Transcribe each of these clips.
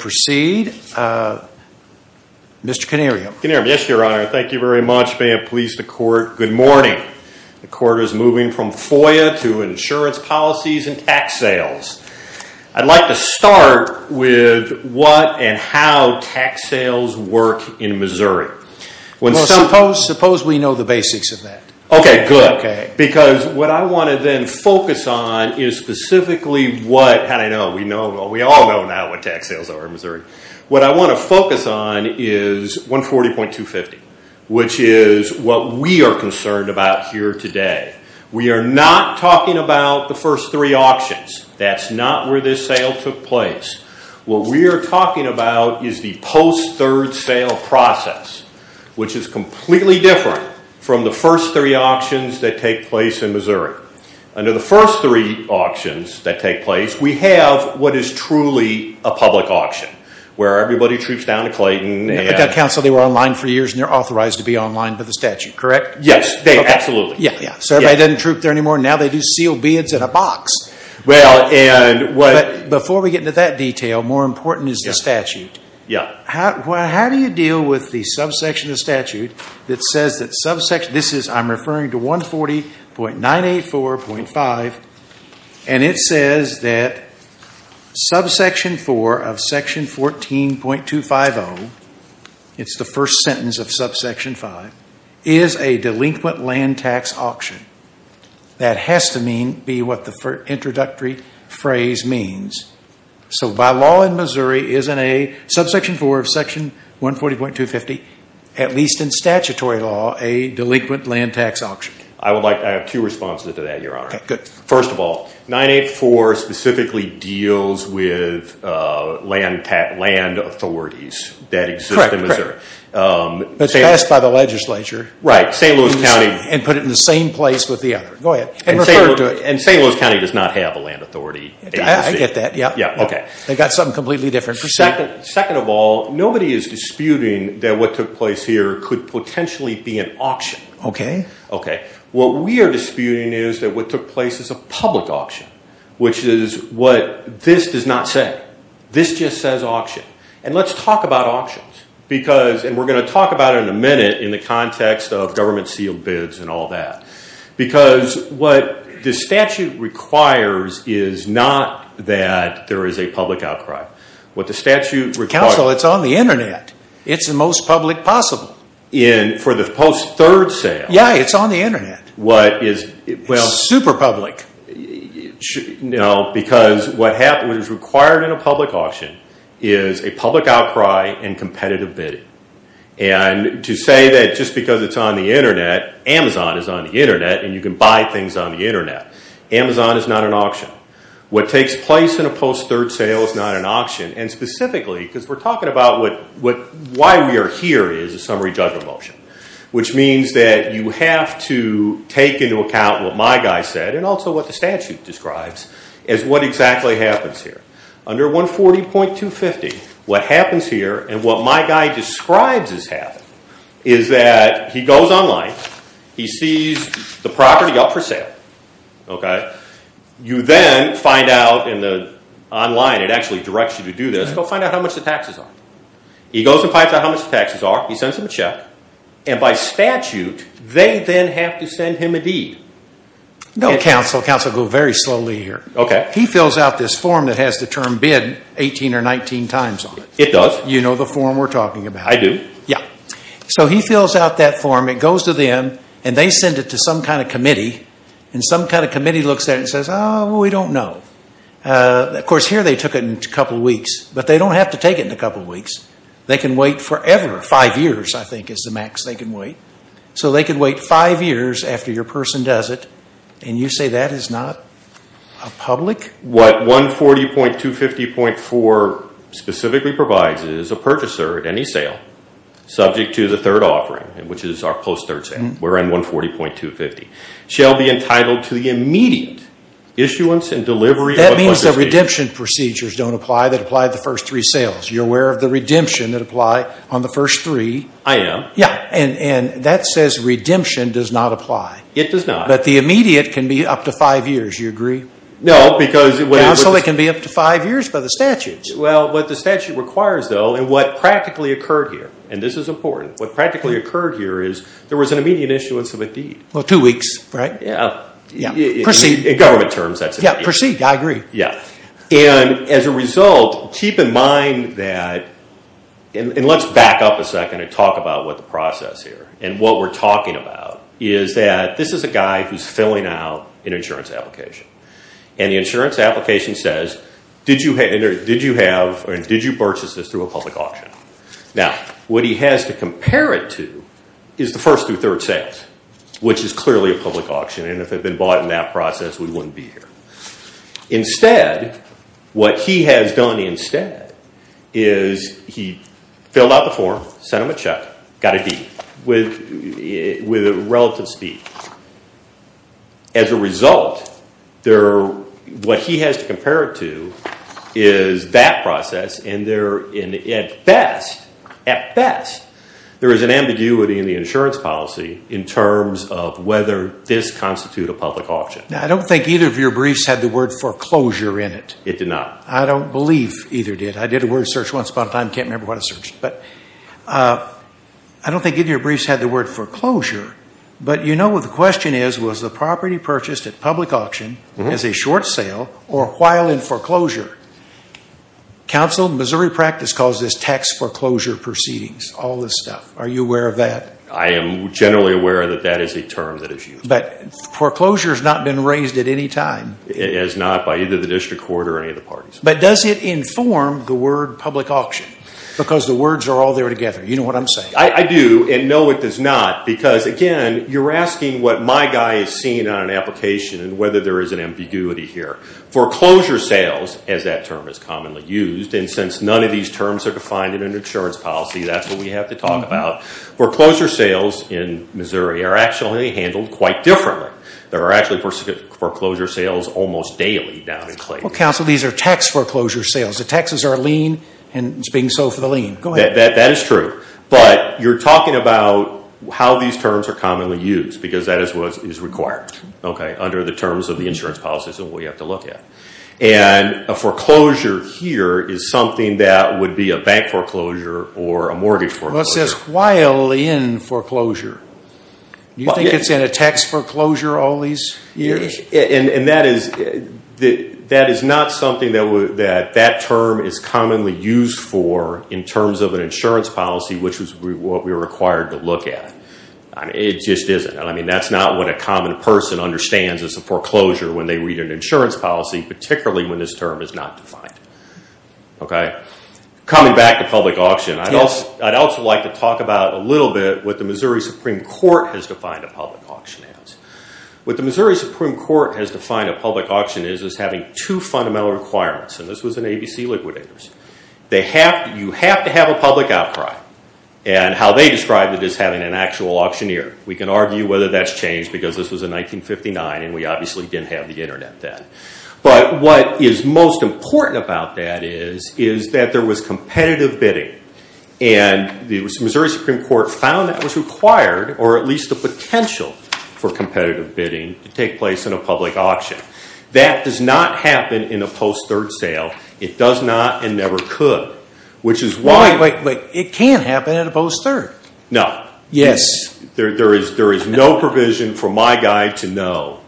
Proceed, uh, Mr. Canarium. Canarium, yes, your honor. Thank you very much. May it please the court, good morning. The court is moving from FOIA to insurance policies and tax sales. I'd like to start with what and how tax sales work in Missouri. Well, suppose, suppose we know the basics of that. Okay, good. Okay. Because what I want to then focus on is specifically what, how do I know? We know, we all know now what tax sales are in Missouri. What I want to focus on is 140.250, which is what we are concerned about here today. We are not talking about the first three auctions. That's not where this sale took place. What we are talking about is the post-third sale process, which is completely different here. Under the first three auctions that take place, we have what is truly a public auction, where everybody troops down to Clayton and- At that council, they were online for years and they are authorized to be online for the statute, correct? Yes, they are, absolutely. Yeah, yeah. So everybody doesn't troop there anymore. Now they do seal bids in a box. Well, and what- Before we get into that detail, more important is the statute. Yeah. How do you deal with the subsection of the statute that says that subsection, this is, I'm referring to 140.984.5, and it says that subsection 4 of section 14.250, it's the first sentence of subsection 5, is a delinquent land tax auction. That has to be what the introductory phrase means. So by law in Missouri, isn't a subsection 4 of section 140.250, at least in statutory law, a delinquent land tax auction? I would like, I have two responses to that, Your Honor. First of all, 984 specifically deals with land authorities that exist in Missouri. Correct, correct. It's passed by the legislature. Right. St. Louis County- And put it in the same place with the other. Go ahead. And refer to it. And St. Louis County does not have a land authority agency. I get that. Yeah. Yeah. Okay. They've got something completely different. Second of all, nobody is disputing that what took place here could potentially be an auction. Okay. Okay. What we are disputing is that what took place is a public auction, which is what this does not say. This just says auction. And let's talk about auctions, because, and we're going to talk about it in a minute in the context of government sealed bids and all that, because what the statute requires is not that there is a public outcry. What the statute requires- Counsel, it's on the internet. It's the most public possible. For the post-third sale. Yeah, it's on the internet. What is- It's super public. Because what is required in a public auction is a public outcry and competitive bidding. And to say that just because it's on the internet, Amazon is on the internet, and you can buy things on the internet, Amazon is not an auction. What takes place in a post-third sale is not an auction. And specifically, because we're talking about why we are here is a summary judgment motion. Which means that you have to take into account what my guy said, and also what the statute describes, as what exactly happens here. Under 140.250, what happens here, and what my guy describes as happening, is that he goes online, he sees the property up for sale. You then find out in the online, it actually directs you to do this, go find out how much the taxes are. He goes and finds out how much the taxes are, he sends him a check, and by statute, they then have to send him a deed. No, Counsel. Counsel, go very slowly here. He fills out this form that has the term bid 18 or 19 times on it. It does? You know the form we're talking about. I do? Yeah. So he fills out that form, it goes to them, and they send it to some kind of committee, and some kind of committee looks at it and says, oh, we don't know. Of course, here they took it in a couple weeks, but they don't have to take it in a couple weeks. They can wait forever. Five years, I think, is the max they can wait. So they can wait five years after your person does it, and you say that is not public? I think what 140.250.4 specifically provides is a purchaser at any sale, subject to the third offering, which is our post-third sale, we're in 140.250, shall be entitled to the immediate issuance and delivery of a purchase deed. That means the redemption procedures don't apply that apply to the first three sales. You're aware of the redemption that apply on the first three? I am. Yeah. And that says redemption does not apply. It does not. But the immediate can be up to five years. You agree? No, because... So it can be up to five years by the statutes. Well, what the statute requires, though, and what practically occurred here, and this is important, what practically occurred here is there was an immediate issuance of a deed. Well, two weeks, right? Yeah. Yeah. Proceed. In government terms, that's immediate. Yeah, proceed. I agree. Yeah. And as a result, keep in mind that, and let's back up a second and talk about what the process here and what we're talking about is that this is a guy who's filling out an insurance application. And the insurance application says, did you have, or did you purchase this through a public auction? Now, what he has to compare it to is the first through third sales, which is clearly a public auction. And if it had been bought in that process, we wouldn't be here. Instead, what he has done instead is he filled out the form, sent him a check, got a deed with relative speed. As a result, what he has to compare it to is that process, and at best, there is an ambiguity in the insurance policy in terms of whether this constitute a public auction. Now, I don't think either of your briefs had the word foreclosure in it. It did not. I don't believe either did. I did a word search once upon a time, can't remember what I searched. But I don't think either of your briefs had the word foreclosure. But you know what the question is, was the property purchased at public auction as a short sale or while in foreclosure? Council of Missouri practice calls this tax foreclosure proceedings, all this stuff. Are you aware of that? I am generally aware that that is a term that is used. But foreclosure has not been raised at any time. It has not by either the district court or any of the parties. But does it inform the word public auction? Because the words are all there together. You know what I'm saying. I do. And no, it does not. Because again, you're asking what my guy is seeing on an application and whether there is an ambiguity here. Foreclosure sales, as that term is commonly used, and since none of these terms are defined in an insurance policy, that's what we have to talk about. Foreclosure sales in Missouri are actually handled quite differently. There are actually foreclosure sales almost daily down in Clayton. Well, Council, these are tax foreclosure sales. The taxes are a lien and it's being sold for the lien. Go ahead. That is true. But you're talking about how these terms are commonly used because that is what is required under the terms of the insurance policies and what you have to look at. And a foreclosure here is something that would be a bank foreclosure or a mortgage foreclosure. Well, it says while in foreclosure. Do you think it's in a tax foreclosure all these years? And that is not something that that term is commonly used for in terms of an insurance policy, which is what we're required to look at. It just isn't. I mean, that's not what a common person understands as a foreclosure when they read an insurance policy, particularly when this term is not defined. Okay? Coming back to public auction, I'd also like to talk about a little bit what the Missouri Supreme Court has defined a public auction as. What the Missouri Supreme Court has defined a public auction as is having two fundamental requirements. And this was in ABC Liquidators. You have to have a public outcry. And how they describe it is having an actual auctioneer. We can argue whether that's changed because this was in 1959 and we obviously didn't have the internet then. But what is most important about that is, is that there was competitive bidding. And the Missouri Supreme Court found that was required, or at least the potential for competitive bidding to take place in a public auction. That does not happen in a post-third sale. It does not and never could. Which is why... Wait, wait, wait. It can happen in a post-third. No. Yes. There is no provision for my guy to know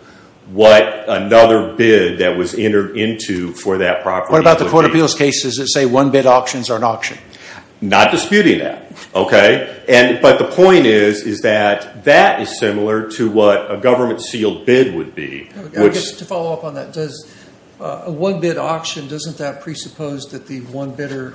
what another bid that was entered into for that property would be. What about the Court of Appeals cases that say one bid auctions are an auction? Not disputing that, okay? But the point is, is that that is similar to what a government sealed bid would be. To follow up on that, does a one bid auction, doesn't that presuppose that the one bidder,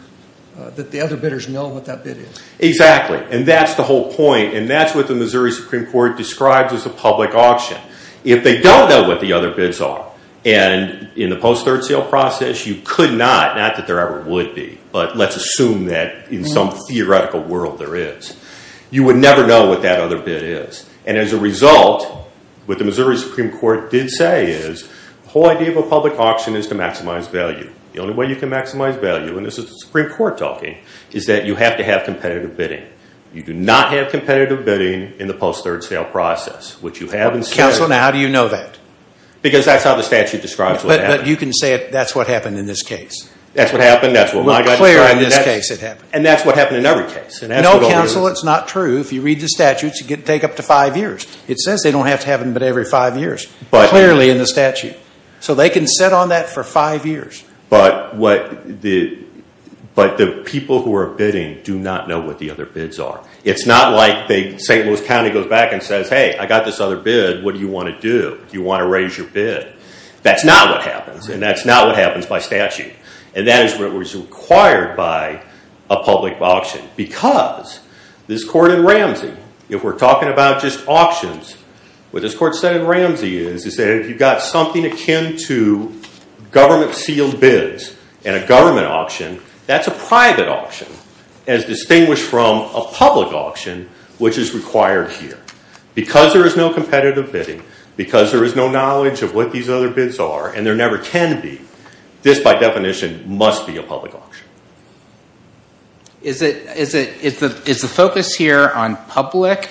that the other bidders know what that bid is? Exactly. Exactly. And that's the whole point. And that's what the Missouri Supreme Court describes as a public auction. If they don't know what the other bids are, and in the post-third sale process, you could not, not that there ever would be, but let's assume that in some theoretical world there is, you would never know what that other bid is. And as a result, what the Missouri Supreme Court did say is, the whole idea of a public auction is to maximize value. The only way you can maximize value, and this is the Supreme Court talking, is that you have to have competitive bidding. You do not have competitive bidding in the post-third sale process, which you haven't said. Counsel, now how do you know that? Because that's how the statute describes what happened. But you can say that's what happened in this case. That's what happened, that's what we got to describe, and that's what happened in every case. No, counsel, it's not true. If you read the statutes, it can take up to five years. It says they don't have to have them but every five years, clearly in the statute. So they can sit on that for five years. But the people who are bidding do not know what the other bids are. It's not like St. Louis County goes back and says, hey, I got this other bid, what do you want to do? Do you want to raise your bid? That's not what happens, and that's not what happens by statute. And that is what was required by a public auction because this court in Ramsey, if we're talking about just auctions, what this court said in Ramsey is that if you've got something akin to government-sealed bids and a government auction, that's a private auction as distinguished from a public auction, which is required here. Because there is no competitive bidding, because there is no knowledge of what these other bids are, and there never can be, this by definition must be a public auction. Is the focus here on public,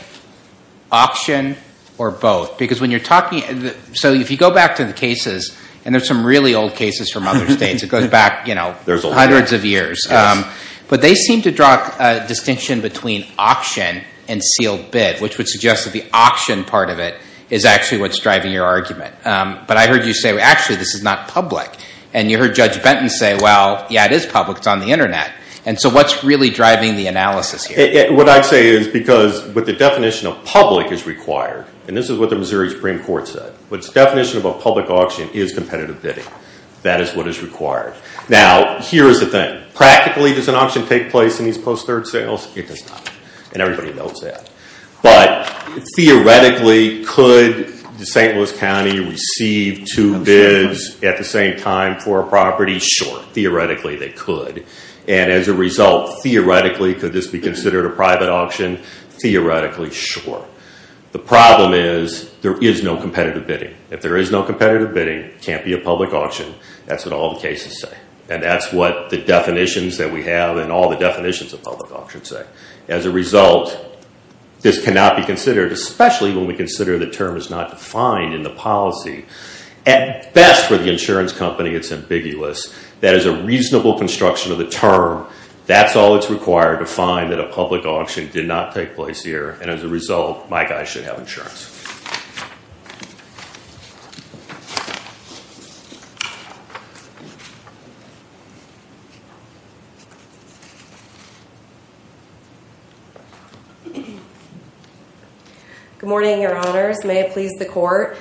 auction, or both? Because when you're talking, so if you go back to the cases, and there's some really old cases from other states, it goes back, you know, hundreds of years, but they seem to draw a distinction between auction and sealed bid, which would suggest that the auction part of it is actually what's driving your argument. But I heard you say, actually, this is not public. And you heard Judge Benton say, well, yeah, it is public, it's on the Internet. And so what's really driving the analysis here? What I'd say is, because what the definition of public is required, and this is what the Missouri Supreme Court said, what's the definition of a public auction is competitive bidding. That is what is required. Now here's the thing, practically does an auction take place in these post-third sales? It does not. And everybody knows that. But theoretically, could the St. Louis County receive two bids at the same time for a property? Sure, theoretically they could. And as a result, theoretically, could this be considered a private auction? Theoretically, sure. The problem is, there is no competitive bidding. If there is no competitive bidding, it can't be a public auction. That's what all the cases say. And that's what the definitions that we have and all the definitions of public auction say. As a result, this cannot be considered, especially when we consider the term is not defined in the policy. At best, for the insurance company, it's ambiguous. That is a reasonable construction of the term. That's all that's required to find that a public auction did not take place here. And as a result, my guy should have insurance. Good morning, your honors. May it please the court.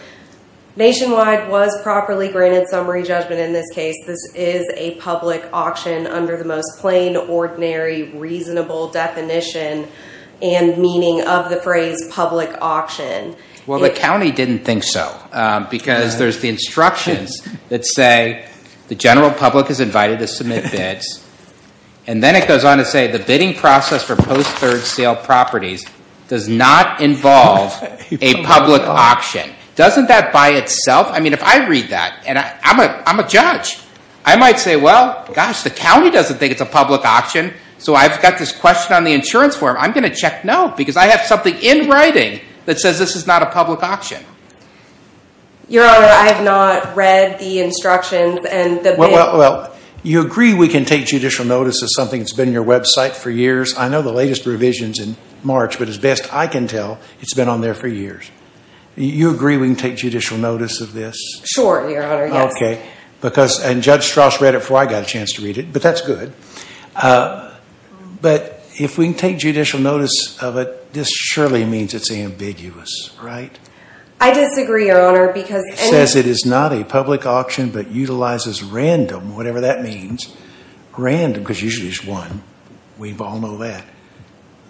Nationwide was properly granted summary judgment in this case. This is a public auction under the most plain, ordinary, reasonable definition and meaning of the phrase public auction. Well, the county didn't think so because there's the instructions that say the general public is invited to submit bids. And then it goes on to say the bidding process for post-third sale properties does not involve a public auction. Doesn't that by itself? I mean, if I read that, and I'm a judge, I might say, well, gosh, the county doesn't think it's a public auction. So I've got this question on the insurance form. I'm going to check no because I have something in writing that says this is not a public auction. Your honor, I have not read the instructions and the bid. Well, you agree we can take judicial notice of something that's been on your website for years. I know the latest revision's in March, but as best I can tell, it's been on there for years. You agree we can take judicial notice of this? Sure, your honor, yes. Okay. And Judge Strauss read it before I got a chance to read it, but that's good. But if we can take judicial notice of it, this surely means it's ambiguous, right? I disagree, your honor, because- It says it is not a public auction, but utilizes random, whatever that means, random because usually it's one. We all know that.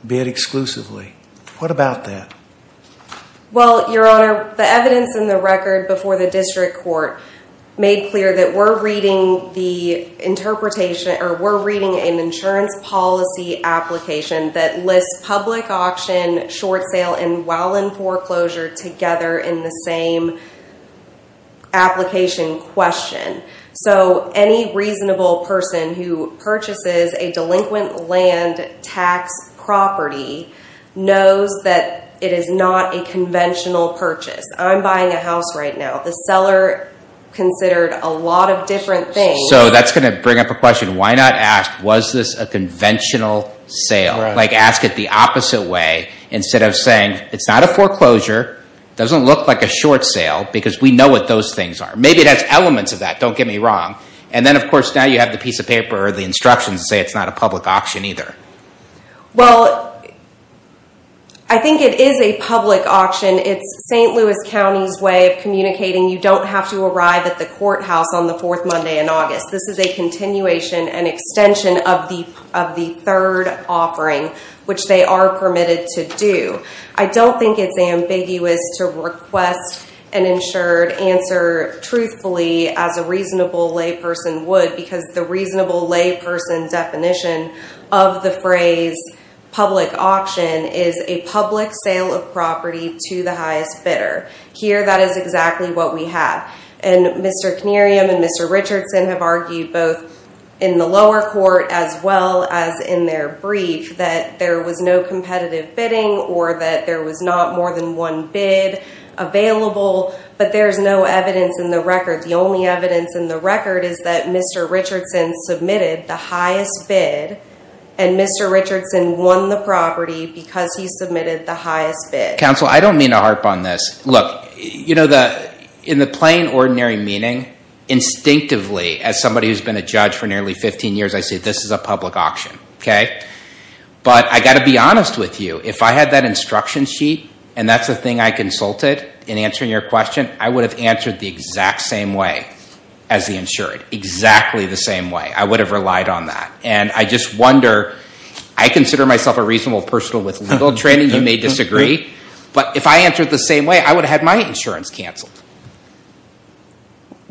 Bid exclusively. What about that? Well, your honor, the evidence in the record before the district court made clear that we're reading an insurance policy application that lists public auction, short sale, and while in foreclosure together in the same application question. So any reasonable person who purchases a delinquent land tax property knows that it is not a conventional purchase. I'm buying a house right now. The seller considered a lot of different things. So that's going to bring up a question, why not ask, was this a conventional sale? Like ask it the opposite way instead of saying, it's not a foreclosure, doesn't look like a short sale because we know what those things are. Maybe it has elements of that, don't get me wrong. And then of course now you have the piece of paper or the instructions to say it's not a public auction either. Well, I think it is a public auction. It's St. Louis County's way of communicating you don't have to arrive at the courthouse on the fourth Monday in August. This is a continuation and extension of the third offering, which they are permitted to do. I don't think it's ambiguous to request an insured answer truthfully as a reasonable lay person would because the reasonable lay person definition of the phrase public auction is a public sale of property to the highest bidder. Here that is exactly what we have. And Mr. Knerium and Mr. Richardson have argued both in the lower court as well as in their executive bidding or that there was not more than one bid available, but there's no evidence in the record. The only evidence in the record is that Mr. Richardson submitted the highest bid and Mr. Richardson won the property because he submitted the highest bid. Counsel, I don't mean to harp on this. Look, in the plain ordinary meaning, instinctively, as somebody who's been a judge for nearly 15 years, I say this is a public auction. But I've got to be honest with you. If I had that instruction sheet and that's the thing I consulted in answering your question, I would have answered the exact same way as the insured. Exactly the same way. I would have relied on that. And I just wonder, I consider myself a reasonable person with legal training, you may disagree, but if I answered the same way, I would have had my insurance canceled.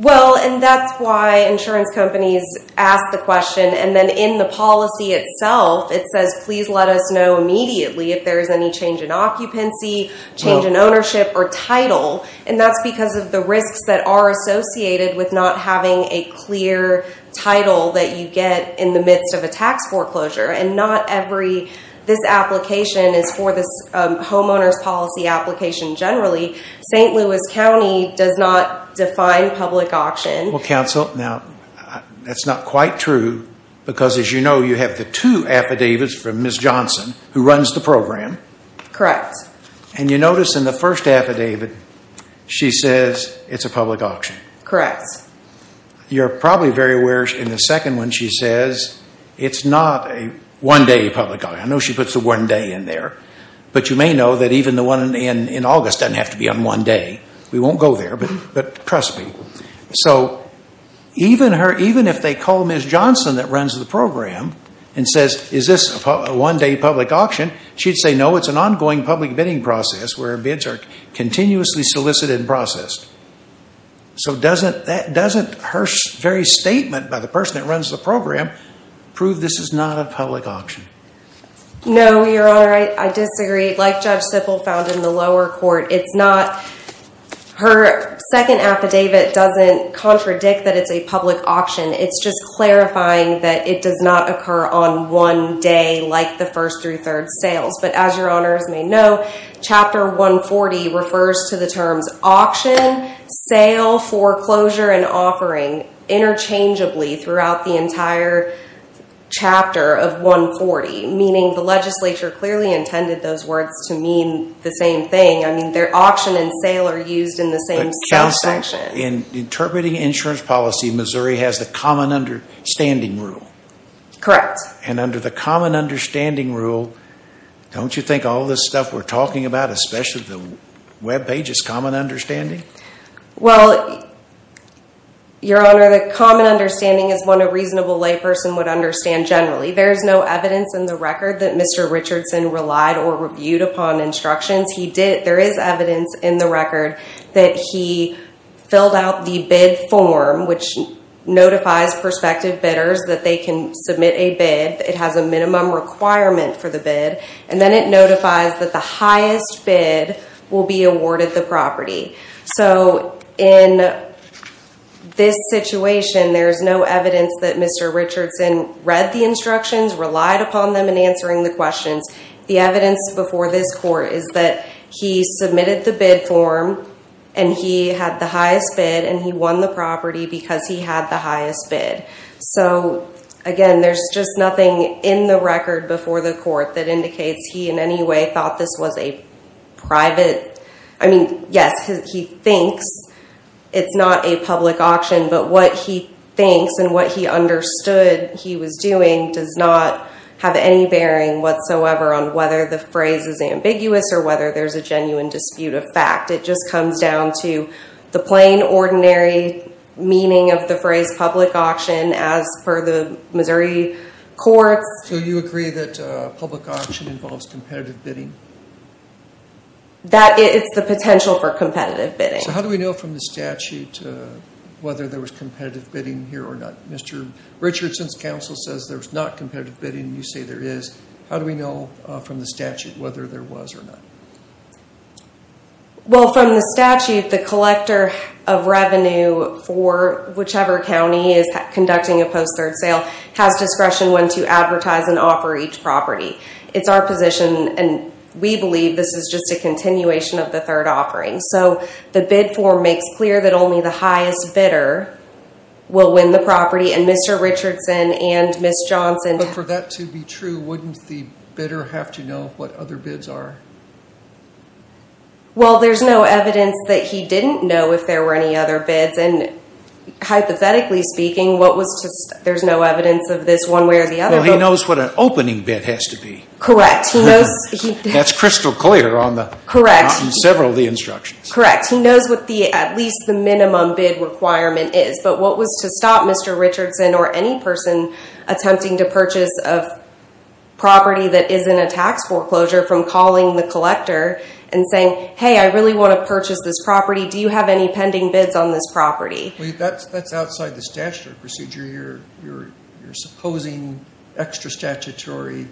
Well, and that's why insurance companies ask the question. And then in the policy itself, it says, please let us know immediately if there's any change in occupancy, change in ownership or title. And that's because of the risks that are associated with not having a clear title that you get in the midst of a tax foreclosure. And not every, this application is for this homeowner's policy application generally. St. Louis County does not define public auction. Well, counsel, now, that's not quite true. Because as you know, you have the two affidavits from Ms. Johnson who runs the program. Correct. And you notice in the first affidavit, she says it's a public auction. Correct. You're probably very aware in the second one, she says it's not a one-day public auction. I know she puts the one day in there. But you may know that even the one in August doesn't have to be on one day. We won't go there, but trust me. So even if they call Ms. Johnson that runs the program and says, is this a one-day public auction, she'd say, no, it's an ongoing public bidding process where bids are continuously solicited and processed. So doesn't her very statement by the person that runs the program prove this is not a public auction? No, Your Honor. I disagree. Like Judge Sippel found in the lower court, it's not. Her second affidavit doesn't contradict that it's a public auction. It's just clarifying that it does not occur on one day like the first through third sales. But as Your Honors may know, Chapter 140 refers to the terms auction, sale, foreclosure, and Meaning the legislature clearly intended those words to mean the same thing. I mean, auction and sale are used in the same section. In interpreting insurance policy, Missouri has the common understanding rule. Correct. And under the common understanding rule, don't you think all this stuff we're talking about, especially the web page, is common understanding? Well, Your Honor, the common understanding is one a reasonable layperson would understand generally. There is no evidence in the record that Mr. Richardson relied or reviewed upon instructions. There is evidence in the record that he filled out the bid form, which notifies prospective bidders that they can submit a bid. It has a minimum requirement for the bid. And then it notifies that the highest bid will be awarded the property. So in this situation, there's no evidence that Mr. Richardson read the instructions, relied upon them in answering the questions. The evidence before this court is that he submitted the bid form and he had the highest bid and he won the property because he had the highest bid. So again, there's just nothing in the record before the court that indicates he in any way thought this was a private, I mean, yes, he thinks it's not a public auction, but what he thinks and what he understood he was doing does not have any bearing whatsoever on whether the phrase is ambiguous or whether there's a genuine dispute of fact. It just comes down to the plain ordinary meaning of the phrase public auction as per the Missouri courts. So you agree that public auction involves competitive bidding? That is the potential for competitive bidding. So how do we know from the statute whether there was competitive bidding here or not? Mr. Richardson's counsel says there's not competitive bidding, you say there is. How do we know from the statute whether there was or not? Well from the statute, the collector of revenue for whichever county is conducting a post-third sale has discretion when to advertise and offer each property. It's our position and we believe this is just a continuation of the third offering. So the bid form makes clear that only the highest bidder will win the property and Mr. Richardson and Ms. Johnson- But for that to be true, wouldn't the bidder have to know what other bids are? Well there's no evidence that he didn't know if there were any other bids and hypothetically speaking there's no evidence of this one way or the other. Well he knows what an opening bid has to be. Correct. That's crystal clear on several of the instructions. Correct. He knows what at least the minimum bid requirement is. But what was to stop Mr. Richardson or any person attempting to purchase a property that is in a tax foreclosure from calling the collector and saying, hey I really want to purchase this property. Do you have any pending bids on this property? Well that's outside the statute or procedure. You're supposing extra statutory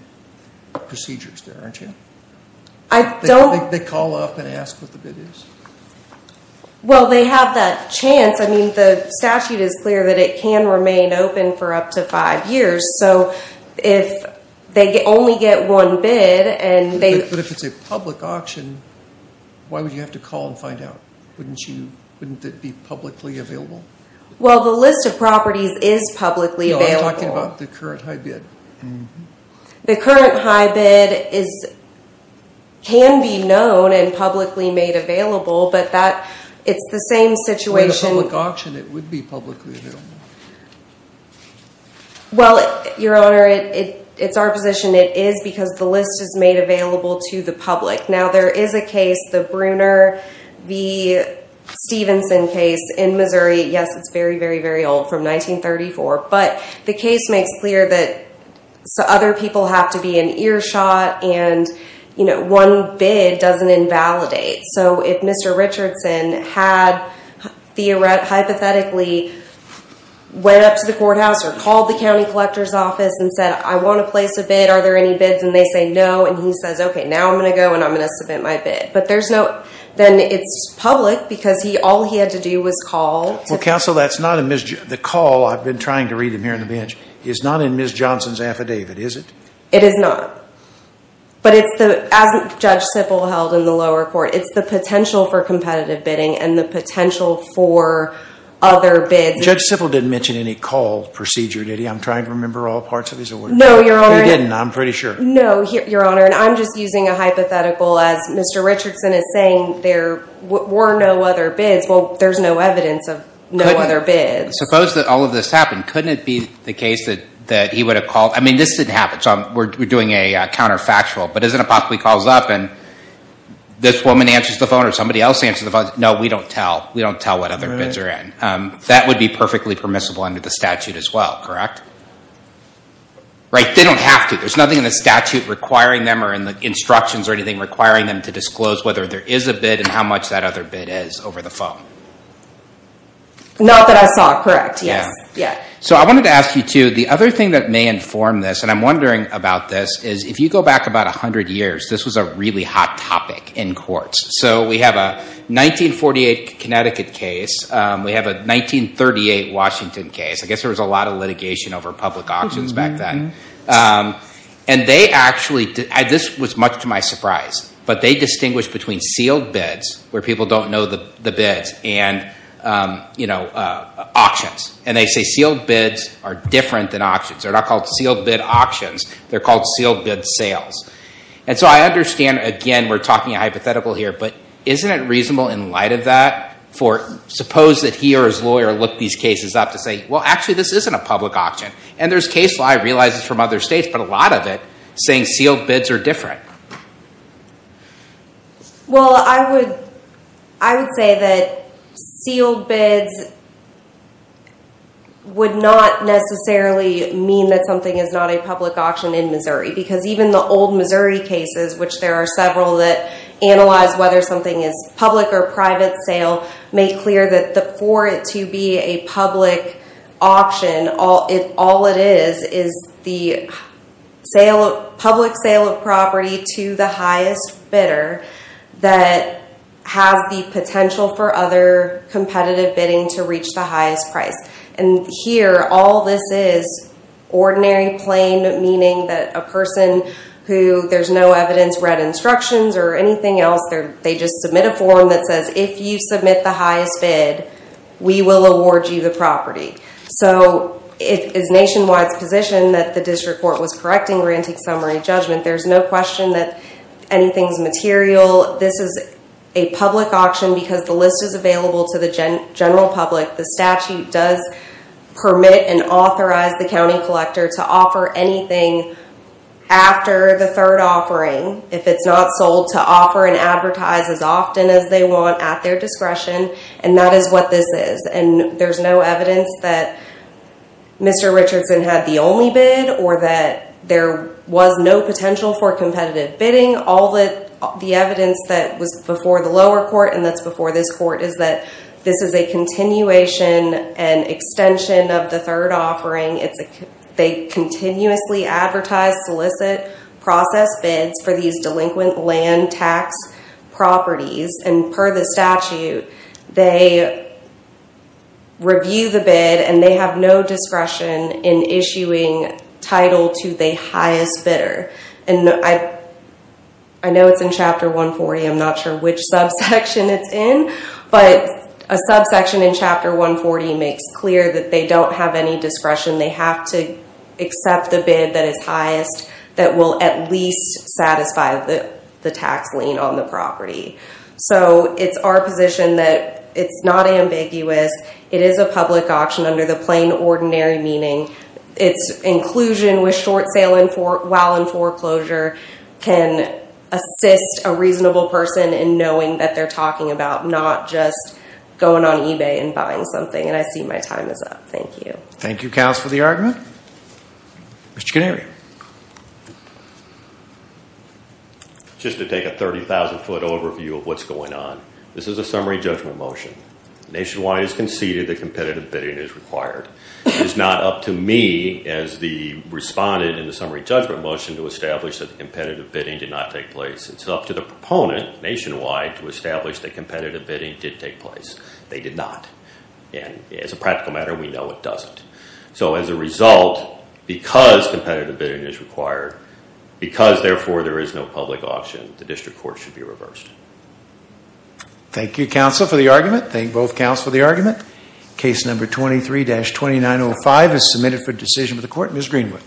procedures there, aren't you? I don't- They call up and ask what the bid is? Well they have that chance. I mean the statute is clear that it can remain open for up to five years. So if they only get one bid and they- But if it's a public auction, why would you have to call and find out? Wouldn't that be publicly available? Well the list of properties is publicly available. No, I'm talking about the current high bid. The current high bid can be known and publicly made available, but it's the same situation- With a public auction it would be publicly available. Well your honor, it's our position it is because the list is made available to the public. Now there is a case, the Bruner v. Stevenson case in Missouri. Yes, it's very, very, very old from 1934, but the case makes clear that other people have to be an earshot and one bid doesn't invalidate. So if Mr. Richardson had hypothetically went up to the courthouse or called the county collector's office and said, I want to place a bid, are there any bids, and they say no and he says, okay, now I'm going to go and I'm going to submit my bid, but then it's public because all he had to do was call- Well counsel, the call, I've been trying to read it here on the bench, is not in Ms. Johnson's affidavit, is it? It is not. But as Judge Sippel held in the lower court, it's the potential for competitive bidding and the potential for other bids- Judge Sippel didn't mention any call procedure, did he? I'm trying to remember all parts of his award. No, your honor- He didn't, I'm pretty sure. No, your honor, and I'm just using a hypothetical as Mr. Richardson is saying there were no other bids. Well, there's no evidence of no other bids. Suppose that all of this happened, couldn't it be the case that he would have called, I mean this didn't happen, so we're doing a counterfactual, but isn't it possibly calls up and this woman answers the phone or somebody else answers the phone, no, we don't tell, we don't tell what other bids are in. That would be perfectly permissible under the statute as well, correct? Right, they don't have to, there's nothing in the statute requiring them or in the instructions or anything requiring them to disclose whether there is a bid and how much that other bid is over the phone. Not that I saw, correct, yes. So I wanted to ask you too, the other thing that may inform this, and I'm wondering about this, is if you go back about 100 years, this was a really hot topic in courts. So we have a 1948 Connecticut case, we have a 1938 Washington case, I guess there was a lot of litigation over public auctions back then. And they actually, this was much to my surprise, but they distinguished between sealed bids, where people don't know the bids, and auctions. And they say sealed bids are different than auctions, they're not called sealed bid auctions, they're called sealed bid sales. And so I understand, again, we're talking hypothetical here, but isn't it reasonable in light of that for, suppose that he or his lawyer looked these cases up to say, well actually this isn't a public auction. And there's case law, I realize it's from other states, but a lot of it saying sealed bids are different. Well, I would say that sealed bids would not necessarily mean that something is not a public auction in Missouri, because even the old Missouri cases, which there are several that analyze whether something is public or private sale, make clear that for it to be a public auction, all it is is the public sale of property to the highest bidder that has the potential for other competitive bidding to reach the highest price. And here, all this is ordinary, plain, meaning that a person who there's no evidence, read instructions or anything else, they just submit a form that says, if you submit the highest bid, we will award you the property. So it is Nationwide's position that the district court was correcting Granting Summary Judgment. There's no question that anything's material. This is a public auction because the list is available to the general public. The statute does permit and authorize the county collector to offer anything after the third offering, if it's not sold, to offer and advertise as often as they want at their discretion. And that is what this is. And there's no evidence that Mr. Richardson had the only bid or that there was no potential for competitive bidding. All the evidence that was before the lower court and that's before this court is that this is a continuation and extension of the third offering. They continuously advertise, solicit, process bids for these delinquent land tax properties. And per the statute, they review the bid and they have no discretion in issuing title to the highest bidder. And I know it's in Chapter 140, I'm not sure which subsection it's in, but a subsection in Chapter 140 makes clear that they don't have any discretion. They have to accept the bid that is highest, that will at least satisfy the tax lien on the property. So it's our position that it's not ambiguous. It is a public auction under the plain, ordinary meaning. It's inclusion with short sale while in foreclosure can assist a reasonable person in knowing that they're talking about, not just going on eBay and buying something. And I see my time is up. Thank you. Thank you, Kallis, for the argument. Mr. Canary. Just to take a 30,000 foot overview of what's going on. This is a summary judgment motion. Nationwide has conceded that competitive bidding is required. It's not up to me as the respondent in the summary judgment motion to establish that competitive bidding did not take place. It's up to the proponent nationwide to establish that competitive bidding did take place. They did not. And as a practical matter, we know it doesn't. So as a result, because competitive bidding is required, because therefore there is no public auction, the district court should be reversed. Thank you, counsel, for the argument. Thank both counsel for the argument. Case number 23-2905 is submitted for decision of the court. Ms. Greenwood.